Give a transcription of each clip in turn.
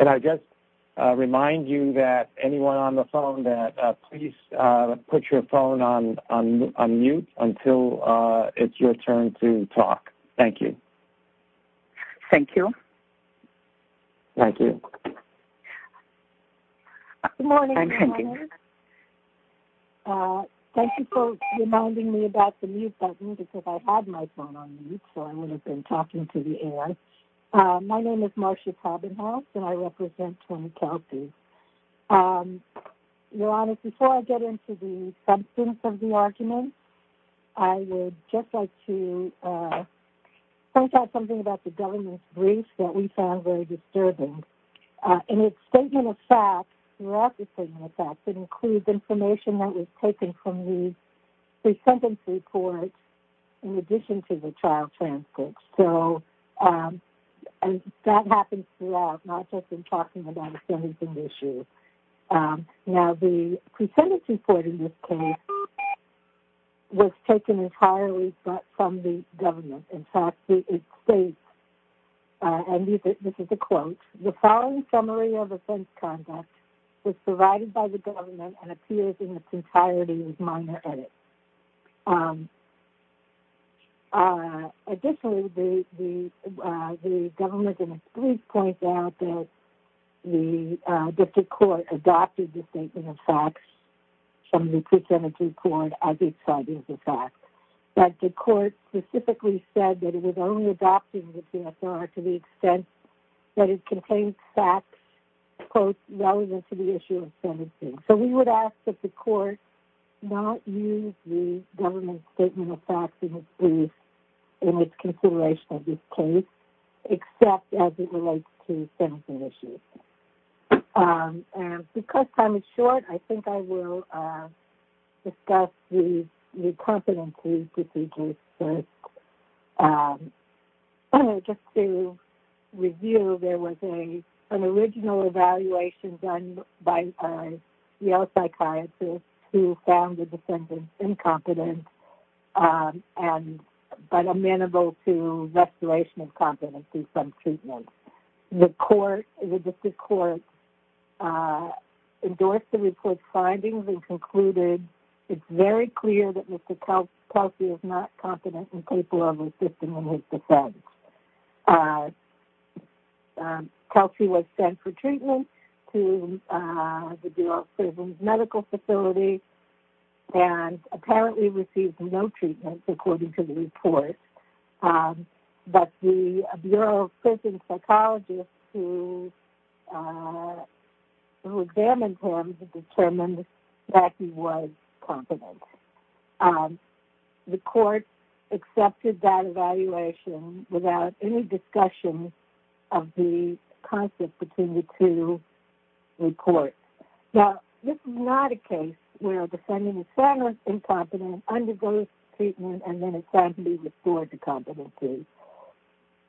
And I just remind you that anyone on the phone, that please put your phone on mute until it's your turn to talk. Thank you. Thank you. Thank you. Good morning. My name is Marcia and I represent 20 counties. Your Honor, before I get into the substance of the argument, I would just like to point out something about the government's brief that we found very disturbing. In its statement of facts, it includes information that was taken from the pre-sentence report in addition to the trial transcripts. So that happens throughout, not just in talking about a sentencing issue. Now, the pre-sentence report in this case was taken entirely from the government. In fact, it states, and this is a quote, the following summary of offense conduct was provided by the government and appears in its entirety with minor edits. Additionally, the government in its brief points out that the district court adopted the statement of facts from the pre-sentence report as it cited the facts. But the court specifically said that it was only adopting the PSR to the extent that it contained facts, quote, relevant to the issue of sentencing. So we would ask that the court not use the government's statement of facts in its brief in its consideration of this case, except as it relates to sentencing issues. Because time is short, I think I will discuss the competency procedures first. Just to review, there was an original evaluation done by a Yale psychiatrist who found the defendant incompetent but amenable to restoration of competency from treatment. The district court endorsed the report's findings and concluded, it's very clear that Mr. Kelsey is not competent and capable of assisting in his defense. Kelsey was sent for treatment to the Bureau of Prisons Medical Facility and apparently received no treatment according to the report. But the Bureau of Prisons psychologist who examined him determined that he was competent. The court accepted that evaluation without any discussion of the concept between the two reports. Now, this is not a case where a defendant is found incompetent, undergoes treatment, and then is found to be restored to competency.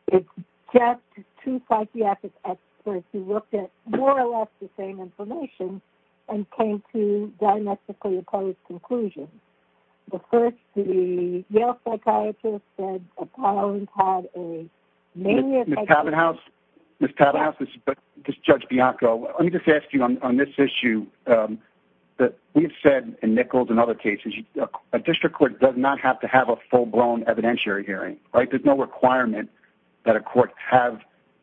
It's just two psychiatric experts who looked at more or less the same information and came to diametrically opposed conclusions. Of course, the Yale psychiatrist had a maniacal... Ms. Tavenhouse, this is Judge Bianco. Let me just ask you on this issue. We've said in Nichols and other cases, a district court does not have to have a full-blown evidentiary hearing, right? There's no requirement that a court have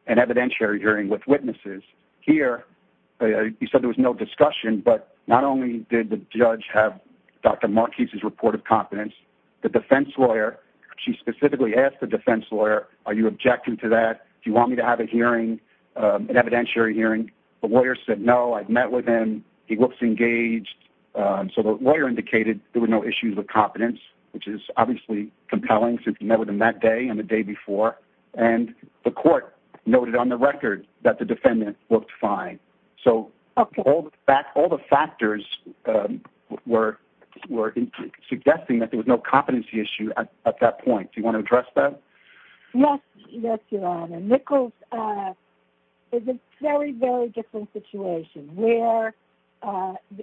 an evidentiary hearing with witnesses. Here, you said there was no discussion, but not only did the judge have Dr. Markey's report of competence, the defense lawyer, she specifically asked the defense lawyer, are you objecting to that? Do you want me to have a hearing, an evidentiary hearing? The lawyer said, no, I've met with him. He looks engaged. So the lawyer indicated there were no issues of competence, which is obviously compelling since he met with him that day and the day before. And the court noted on the record that the defendant looked fine. So all the factors were suggesting that there was no competency issue at that point. Do you want to address that? Yes, Your Honor. Nichols is a very, very different situation where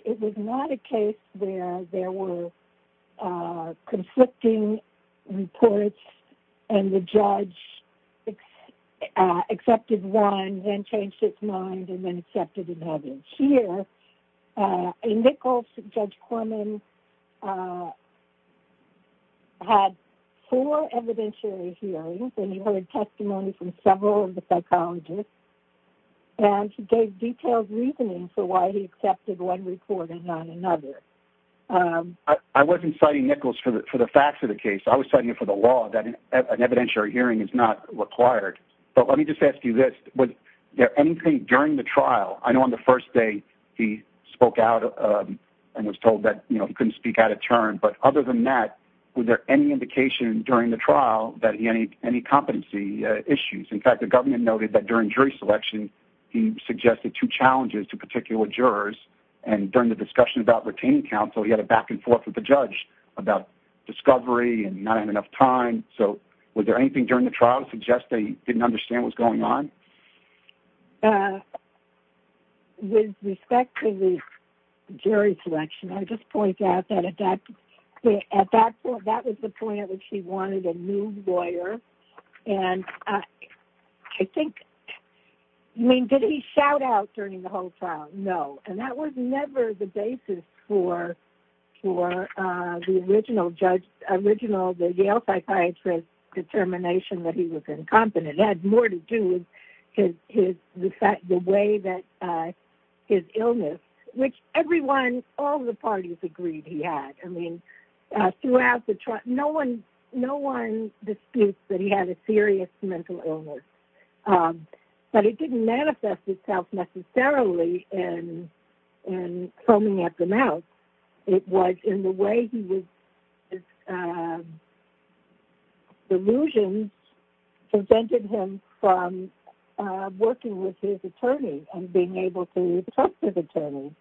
it was not a case where there were conflicting reports and the judge accepted one, then changed its mind, and then accepted another. Here, Nichols, Judge Corman, had four evidentiary hearings, and he heard testimony from several of the psychologists, and he gave detailed reasoning for why he accepted one report and not another. I wasn't citing Nichols for the facts of the case. I was citing it for the law that an evidentiary hearing is not required. But let me just ask you this. Was there anything during the trial? I know on the first day he spoke out and was told that he couldn't speak out of turn. But other than that, was there any indication during the trial that he had any competency issues? In fact, the government noted that during jury selection, he suggested two challenges to particular jurors. And during the discussion about retaining counsel, he had a back-and-forth with the judge about discovery and not having enough time. So was there anything during the trial to suggest that he didn't understand what was going on? With respect to the jury selection, I just point out that at that point, that was the point at which he wanted a new lawyer. And I think, I mean, did he shout out during the whole trial? No. And that was never the basis for the original Yale psychiatrist determination that he was incompetent. It had more to do with the way that his illness, which everyone, all the parties agreed he had. I mean, throughout the trial, no one disputes that he had a serious mental illness. But it didn't manifest itself necessarily in foaming at the mouth. It was in the way his delusions prevented him from working with his attorney and being able to talk to his attorney.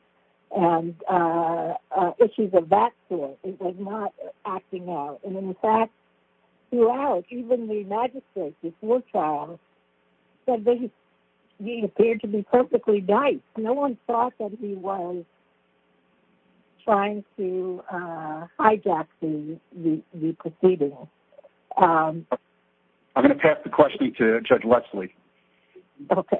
And issues of that sort, it was not acting out. And, in fact, throughout, even the magistrate before trial said that he appeared to be perfectly nice. No one thought that he was trying to hijack the proceeding. I'm going to pass the question to Judge Leslie. Okay.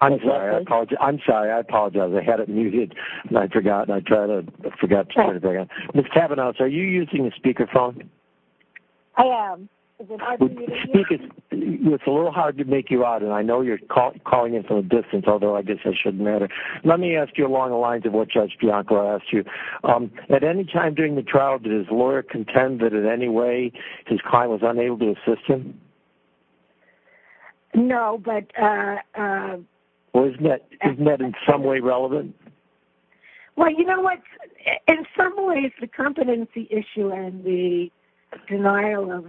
I'm sorry. I apologize. I had it muted, and I forgot, and I tried to forget to turn it back on. Ms. Kavanaugh, are you using a speakerphone? I am. Is it hard for you to hear? It's a little hard to make you out, and I know you're calling in from a distance, although I guess that shouldn't matter. Let me ask you along the lines of what Judge Bianco asked you. At any time during the trial, did his lawyer contend that in any way his client was unable to assist him? No, but – Well, isn't that in some way relevant? Well, you know what? In some ways, the competency issue and the denial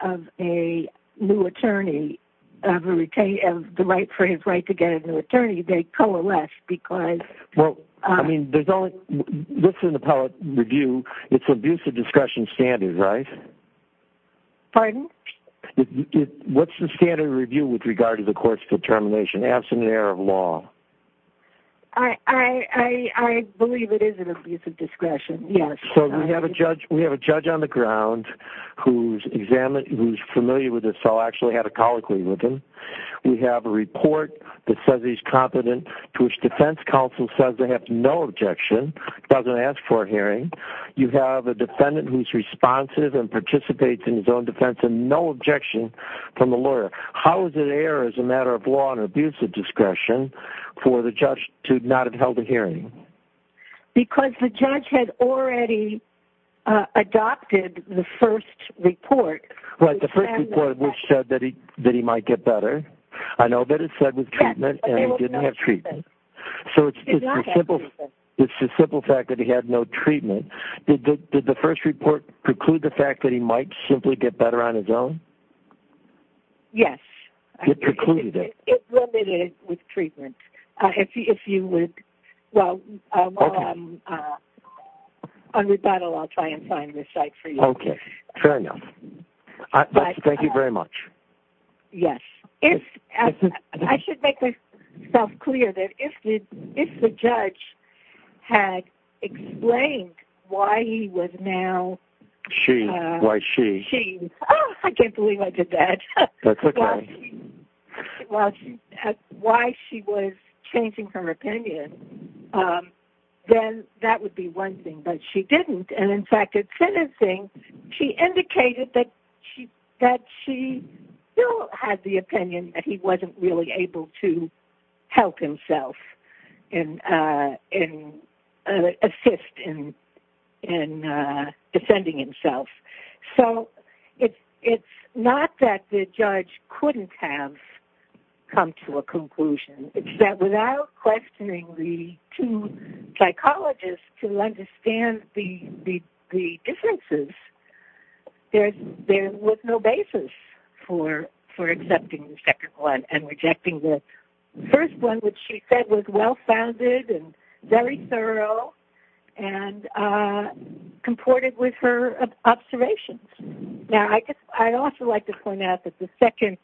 of a new attorney, of the right for his right to get a new attorney, they coalesce because – Well, I mean, there's only – this is an appellate review. It's abusive discretion standard, right? Pardon? What's the standard review with regard to the court's determination, absent an error of law? I believe it is an abusive discretion, yes. So we have a judge on the ground who's familiar with this, so I'll actually have a colloquy with him. We have a report that says he's competent, to which defense counsel says they have no objection, doesn't ask for a hearing. You have a defendant who's responsive and participates in his own defense, and no objection from the lawyer. How is it an error as a matter of law and abusive discretion for the judge to not have held a hearing? Because the judge had already adopted the first report. Right, the first report which said that he might get better. I know that it said with treatment, and he didn't have treatment. So it's the simple fact that he had no treatment. Did the first report preclude the fact that he might simply get better on his own? Yes. It precluded it. It's limited with treatment. If you would – well, while I'm on rebuttal, I'll try and find the site for you. Okay, fair enough. Thank you very much. Yes. I should make myself clear that if the judge had explained why he was now – She, why she. Oh, I can't believe I did that. That's okay. Why she was changing her opinion, then that would be one thing, but she didn't. And, in fact, it's another thing. She indicated that she still had the opinion that he wasn't really able to help himself and assist in defending himself. So it's not that the judge couldn't have come to a conclusion. It's that without questioning the two psychologists to understand the differences, there was no basis for accepting the second one and rejecting the first one, which she said was well-founded and very thorough and comported with her observations. Now, I'd also like to point out that the second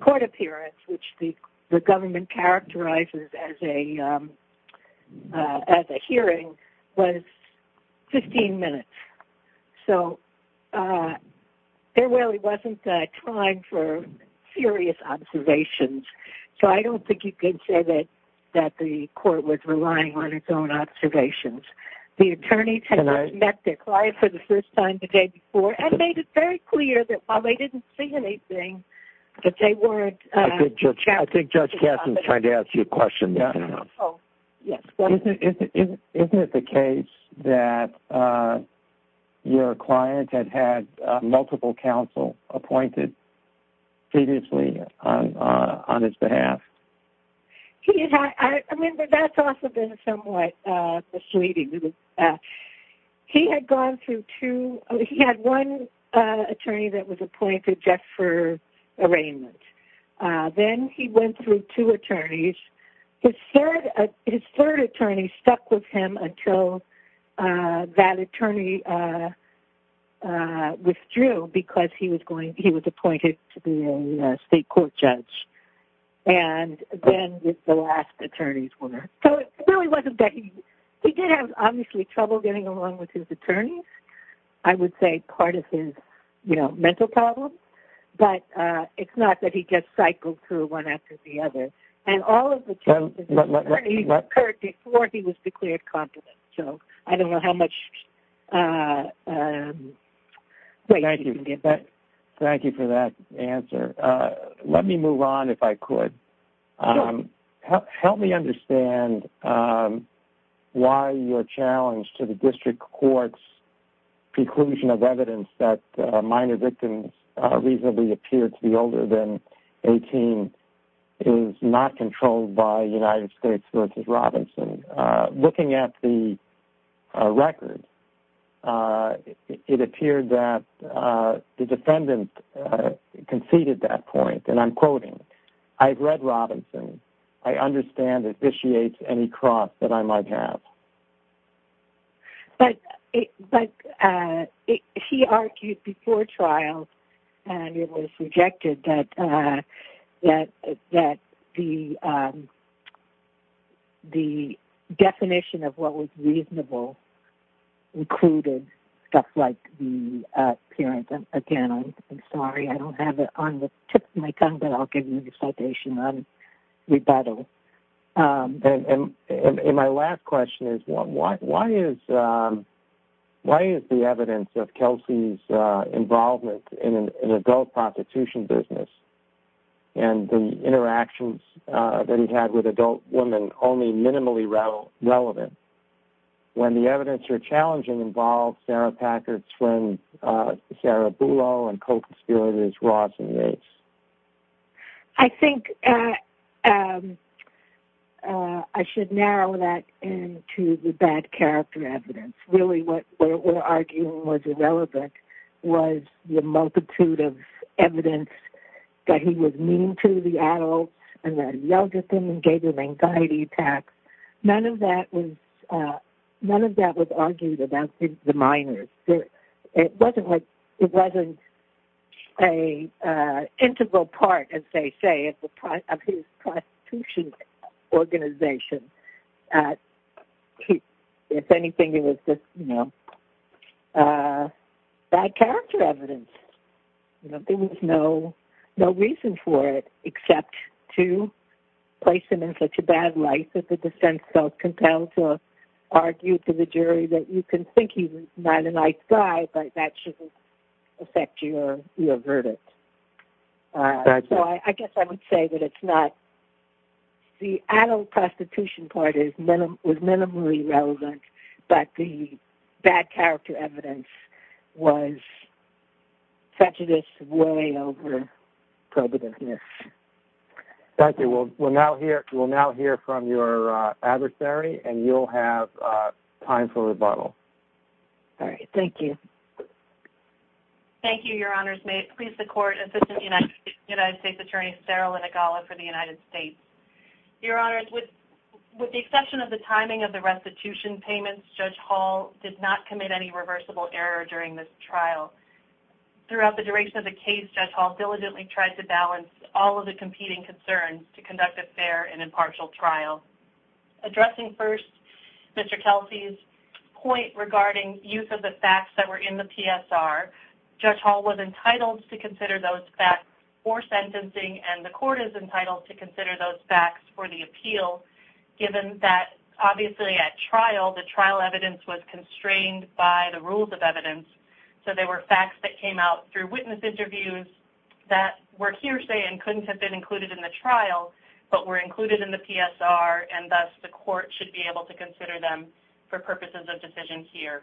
court appearance, which the government characterizes as a hearing, was 15 minutes. So there really wasn't time for serious observations. So I don't think you could say that the court was relying on its own observations. The attorneys had met their client for the first time the day before and made it very clear that while they didn't see anything, that they weren't – I think Judge Kasten is trying to ask you a question now. Oh, yes. Isn't it the case that your client had had multiple counsel appointed previously on his behalf? I mean, that's also been somewhat persuading. He had gone through two – he had one attorney that was appointed just for arraignment. Then he went through two attorneys. His third attorney stuck with him until that attorney withdrew because he was appointed to be a state court judge. And then the last attorneys were. So it really wasn't that he – he did have, obviously, trouble getting along with his attorneys. I would say part of his, you know, mental problem. But it's not that he just cycled through one after the other. And all of the charges occurred before he was declared competent. So I don't know how much weight you can give that. Thank you for that answer. Let me move on, if I could. Sure. Help me understand why your challenge to the district court's preclusion of evidence that minor victims reasonably appear to be older than 18 is not controlled by United States v. Robinson. Looking at the record, it appeared that the defendant conceded that point. And I'm quoting, I've read Robinson. I understand it vitiates any cross that I might have. But he argued before trial, and it was rejected, that the definition of what was reasonable included stuff like the appearance. Again, I'm sorry. I don't have it on the tip of my tongue, but I'll give you the citation on rebuttal. And my last question is, why is the evidence of Kelsey's involvement in an adult prostitution business and the interactions that he had with adult women only minimally relevant when the evidence you're challenging involves Sarah Packard's friend Sarah Bulow and co-conspirators Ross and Yates? I think I should narrow that into the bad character evidence. Really what we're arguing was irrelevant was the multitude of evidence that he was mean to the adult and that he yelled at them and gave them anxiety attacks. None of that was argued about the minors. It wasn't an integral part, as they say, of his prostitution organization. If anything, it was just bad character evidence. There was no reason for it except to place him in such a bad light that the defense felt compelled to argue to the jury that you can think he's not a nice guy, but that shouldn't affect your verdict. The adult prostitution part was minimally relevant, but the bad character evidence was prejudice way over prohibitiveness. Thank you. We'll now hear from your adversary, and you'll have time for rebuttal. All right. Thank you. Thank you, Your Honors. May it please the Court, Assistant United States Attorney Sarah Linigala for the United States. Your Honors, with the exception of the timing of the restitution payments, Judge Hall did not commit any reversible error during this trial. Throughout the duration of the case, Judge Hall diligently tried to balance all of the competing concerns to conduct a fair and impartial trial. Addressing first Mr. Kelsey's point regarding use of the facts that were in the PSR, Judge Hall was entitled to consider those facts for sentencing, and the Court is entitled to consider those facts for the appeal, given that, obviously, at trial, the trial evidence was constrained by the rules of evidence, so there were facts that came out through witness interviews that were hearsay and couldn't have been included in the trial but were included in the PSR, and thus the Court should be able to consider them for purposes of decision here.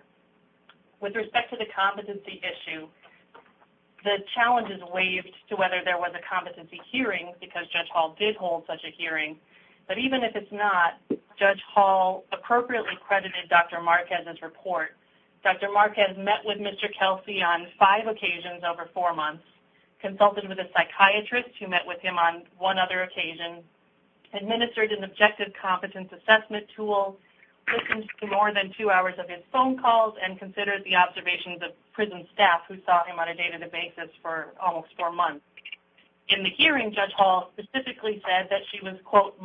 With respect to the competency issue, the challenge is waived to whether there was a competency hearing, because Judge Hall did hold such a hearing, but even if it's not, Judge Hall appropriately credited Dr. Marquez's report. Dr. Marquez met with Mr. Kelsey on five occasions over four months, consulted with a psychiatrist who met with him on one other occasion, administered an objective competence assessment tool, listened to more than two hours of his phone calls, and considered the observations of prison staff who saw him on a day-to-day basis for almost four months. In the hearing, Judge Hall specifically said that she was, quote,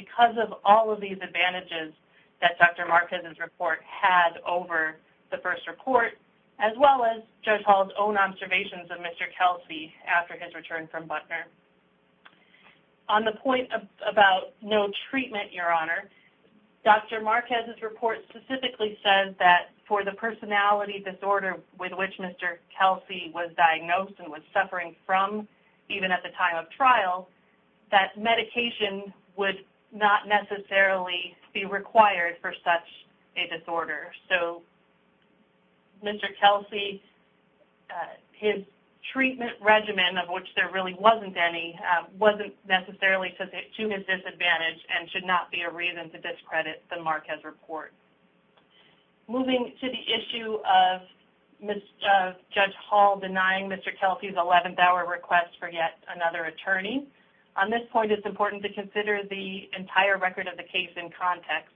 because of all of these advantages that Dr. Marquez's report had over the first report, as well as Judge Hall's own observations of Mr. Kelsey after his return from Butner. On the point about no treatment, Your Honor, Dr. Marquez's report specifically says that for the personality disorder with which Mr. Kelsey was diagnosed and was suffering from even at the time of trial, that medication would not necessarily be required for such a disorder. So Mr. Kelsey, his treatment regimen, of which there really wasn't any, wasn't necessarily to his disadvantage and should not be a reason to discredit the Marquez report. Moving to the issue of Judge Hall denying Mr. Kelsey's 11th hour request for yet another attorney, on this point it's important to consider the entire record of the case in context.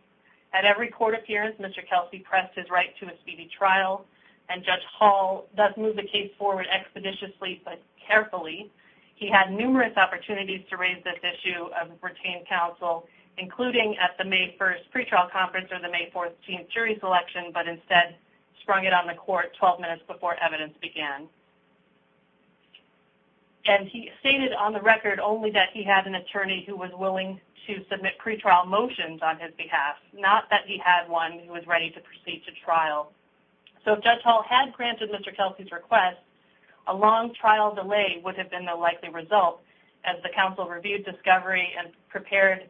At every court appearance, Mr. Kelsey pressed his right to a speedy trial, and Judge Hall does move the case forward expeditiously but carefully. He had numerous opportunities to raise this issue of retained counsel, including at the May 1st pretrial conference or the May 14th jury selection, but instead sprung it on the court 12 minutes before evidence began. And he stated on the record only that he had an attorney who was willing to submit pretrial motions on his behalf, not that he had one who was ready to proceed to trial. So if Judge Hall had granted Mr. Kelsey's request, a long trial delay would have been the likely result, as the counsel reviewed discovery and prepared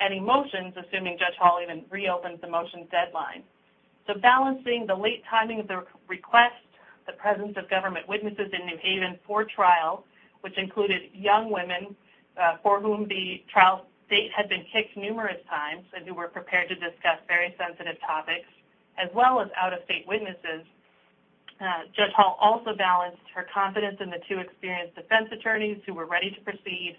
any motions, assuming Judge Hall even reopened the motions deadline. So balancing the late timing of the request, the presence of government witnesses in New Haven for trial, which included young women for whom the trial date had been kicked numerous times and who were prepared to discuss very sensitive topics, as well as out-of-state witnesses, Judge Hall also balanced her confidence in the two experienced defense attorneys who were ready to proceed,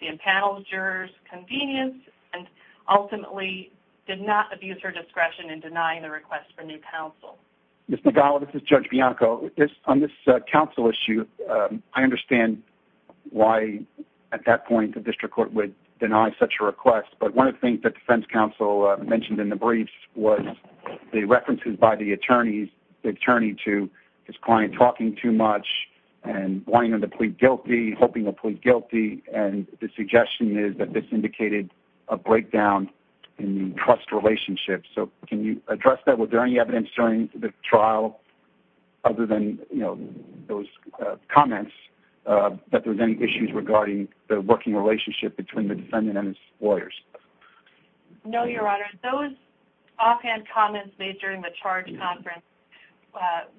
the impaneled jurors' convenience, and ultimately did not abuse her discretion in denying the request for new counsel. Ms. Nagala, this is Judge Bianco. On this counsel issue, I understand why at that point the district court would deny such a request, but one of the things that the defense counsel mentioned in the briefs was the references by the attorney to his client talking too much and wanting him to plead guilty, hoping to plead guilty, and the suggestion is that this indicated a breakdown in trust relationships. So can you address that? Was there any evidence during the trial, other than those comments, that there was any issues regarding the working relationship between the defendant and his lawyers? No, Your Honor. Those offhand comments made during the charge conference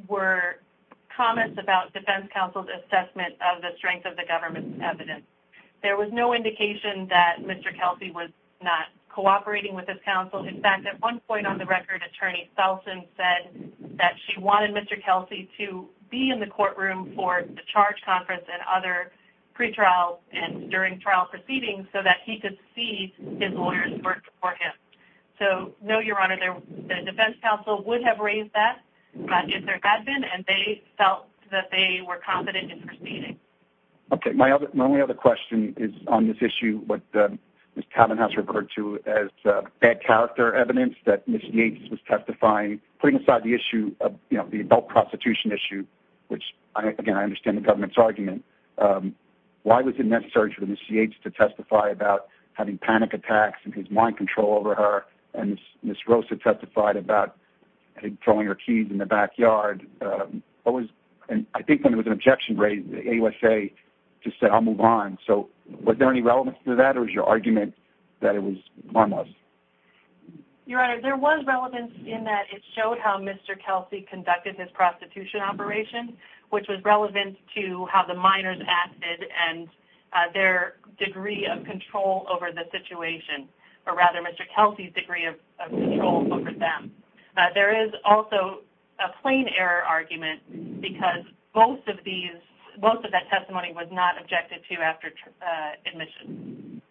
were comments about defense counsel's assessment of the strength of the government's evidence. There was no indication that Mr. Kelsey was not cooperating with his counsel. In fact, at one point on the record, Attorney Selson said that she wanted Mr. Kelsey to be in the courtroom for the charge conference and other pretrials and during trial proceedings so that he could see his lawyers work for him. So no, Your Honor, the defense counsel would have raised that if there had been, and they felt that they were confident in proceeding. Okay, my only other question is on this issue, what Ms. Calvin has referred to as bad character evidence, that Ms. Yates was testifying, putting aside the adult prostitution issue, which, again, I understand the government's argument. Why was it necessary for Ms. Yates to testify about having panic attacks and his mind control over her and Ms. Rosa testified about throwing her keys in the backyard? I think when there was an objection raised, the AUSA just said, I'll move on. So was there any relevance to that or was your argument that it was harmless? Your Honor, there was relevance in that it showed how Mr. Kelsey conducted his prostitution operation, which was relevant to how the minors acted and their degree of control over the situation, or rather Mr. Kelsey's degree of control over them. There is also a plain error argument because most of that testimony was not objected to after admission.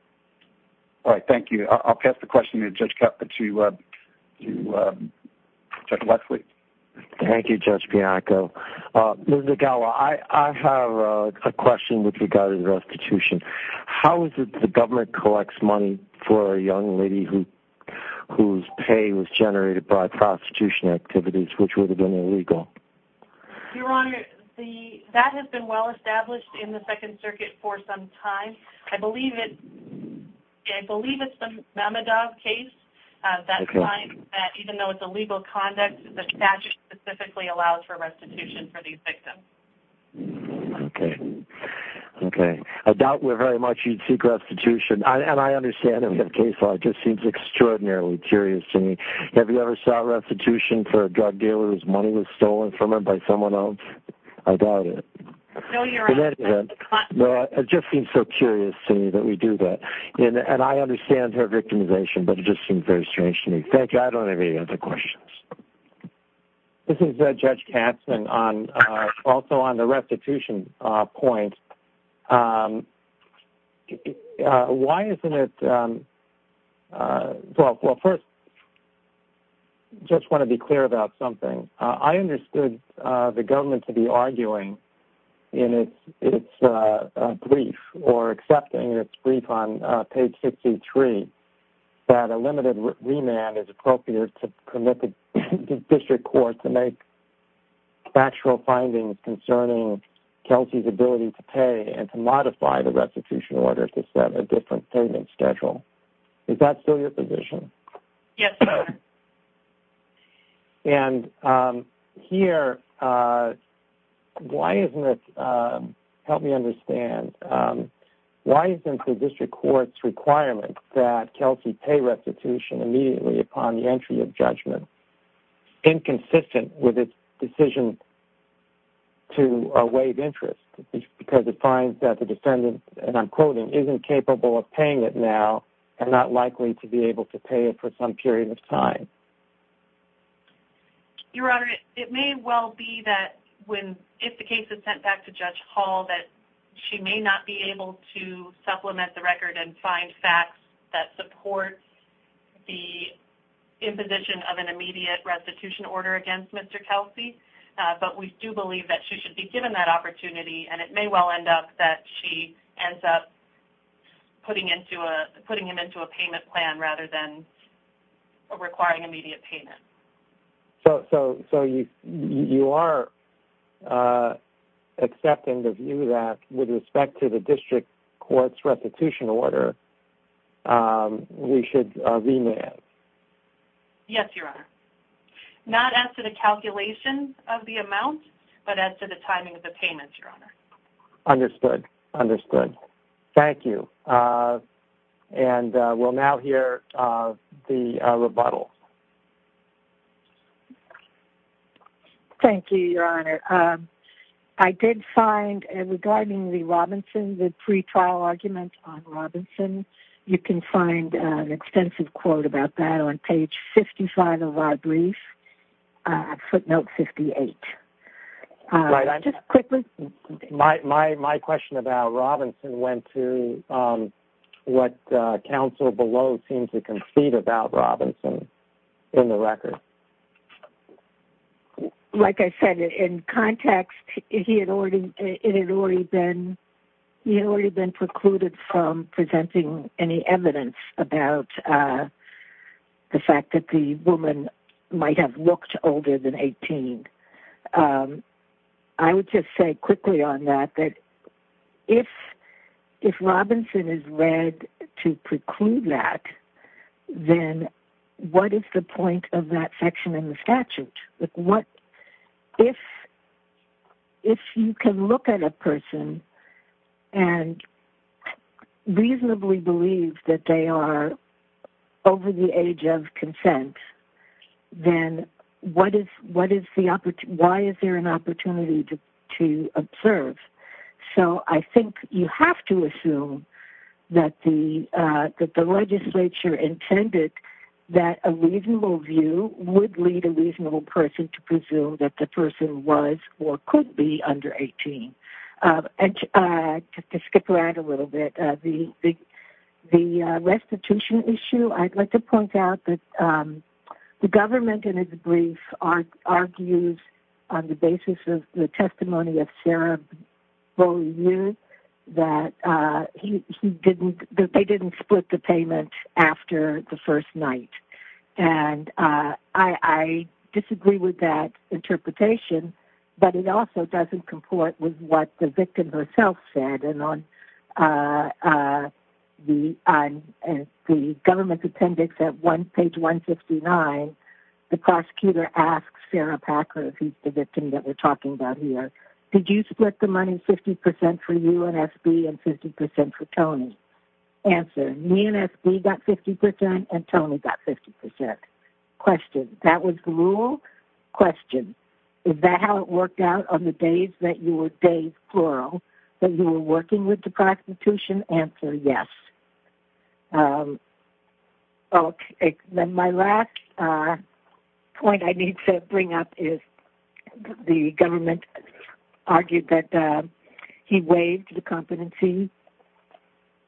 All right, thank you. I'll pass the question to Judge Lexley. Thank you, Judge Bianco. Ms. Agalo, I have a question with regard to restitution. How is it that the government collects money for a young lady whose pay was generated by prostitution activities, which would have been illegal? Your Honor, that has been well established in the Second Circuit for some time. I believe it's the Mamadov case that finds that even though it's illegal conduct, the statute specifically allows for restitution for these victims. Okay, okay. I doubt very much you'd seek restitution. And I understand that we have case law. It just seems extraordinarily curious to me. Have you ever sought restitution for a drug dealer whose money was stolen from him by someone else? I doubt it. No, Your Honor. In any event, it just seems so curious to me that we do that. And I understand her victimization, but it just seems very strange to me. Thank you. I don't have any other questions. This is Judge Katzman, also on the restitution point. Why isn't it – well, first, I just want to be clear about something. I understood the government to be arguing in its brief or accepting its brief on page 63 that a limited remand is appropriate to permit the district court to make factual findings concerning Kelsey's ability to pay and to modify the restitution order to set a different payment schedule. Is that still your position? Yes, Your Honor. And here, why isn't it – help me understand. Why isn't the district court's requirement that Kelsey pay restitution immediately upon the entry of judgment inconsistent with its decision to waive interest? Because it finds that the defendant, and I'm quoting, isn't capable of paying it now and not likely to be able to pay it for some period of time. Your Honor, it may well be that if the case is sent back to Judge Hall, that she may not be able to supplement the record and find facts that support the imposition of an immediate restitution order against Mr. Kelsey. But we do believe that she should be given that opportunity, and it may well end up that she ends up putting him into a payment plan rather than requiring immediate payment. So you are accepting the view that with respect to the district court's restitution order, we should remand? Yes, Your Honor. Not as to the calculation of the amount, but as to the timing of the payment, Your Honor. Understood, understood. Thank you. And we'll now hear the rebuttal. Thank you, Your Honor. I did find, regarding the Robinson, the pretrial argument on Robinson, you can find an extensive quote about that on page 55 of our brief, footnote 58. Just quickly. My question about Robinson went to what counsel below seems to concede about Robinson in the record. Like I said, in context, he had already been precluded from presenting any evidence about the fact that the woman might have looked older than 18. I would just say quickly on that that if Robinson is read to preclude that, then what is the point of that section in the statute? If you can look at a person and reasonably believe that they are over the age of consent, then why is there an opportunity to observe? So I think you have to assume that the legislature intended that a reasonable view would lead a reasonable person to presume that the person was or could be under 18. To skip around a little bit, the restitution issue, I'd like to point out that the government in its brief argues on the basis of the testimony of Sarah Beaulieu that they didn't split the payment after the first night. I disagree with that interpretation, but it also doesn't comport with what the victim herself said. On the government's appendix at page 159, the prosecutor asks Sarah Packer, the victim that we're talking about here, did you split the money 50% for you and S.B. and 50% for Tony? Answer, me and S.B. got 50% and Tony got 50%. That was the rule. Question, is that how it worked out on the days that you were, days plural, that you were working with the prosecution? Answer, yes. Okay, then my last point I need to bring up is the government argued that he waived the competency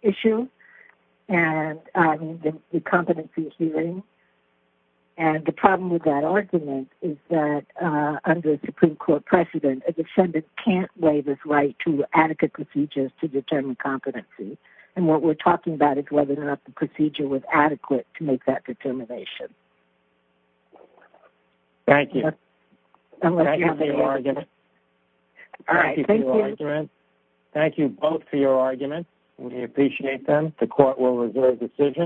issue and the competency hearing. And the problem with that argument is that under a Supreme Court precedent, a defendant can't waive his right to adequate procedures to determine competency. And what we're talking about is whether or not the procedure was adequate to make that determination. Thank you. Thank you for your argument. All right, thank you. Thank you both for your argument. We appreciate them. The court will reserve decision.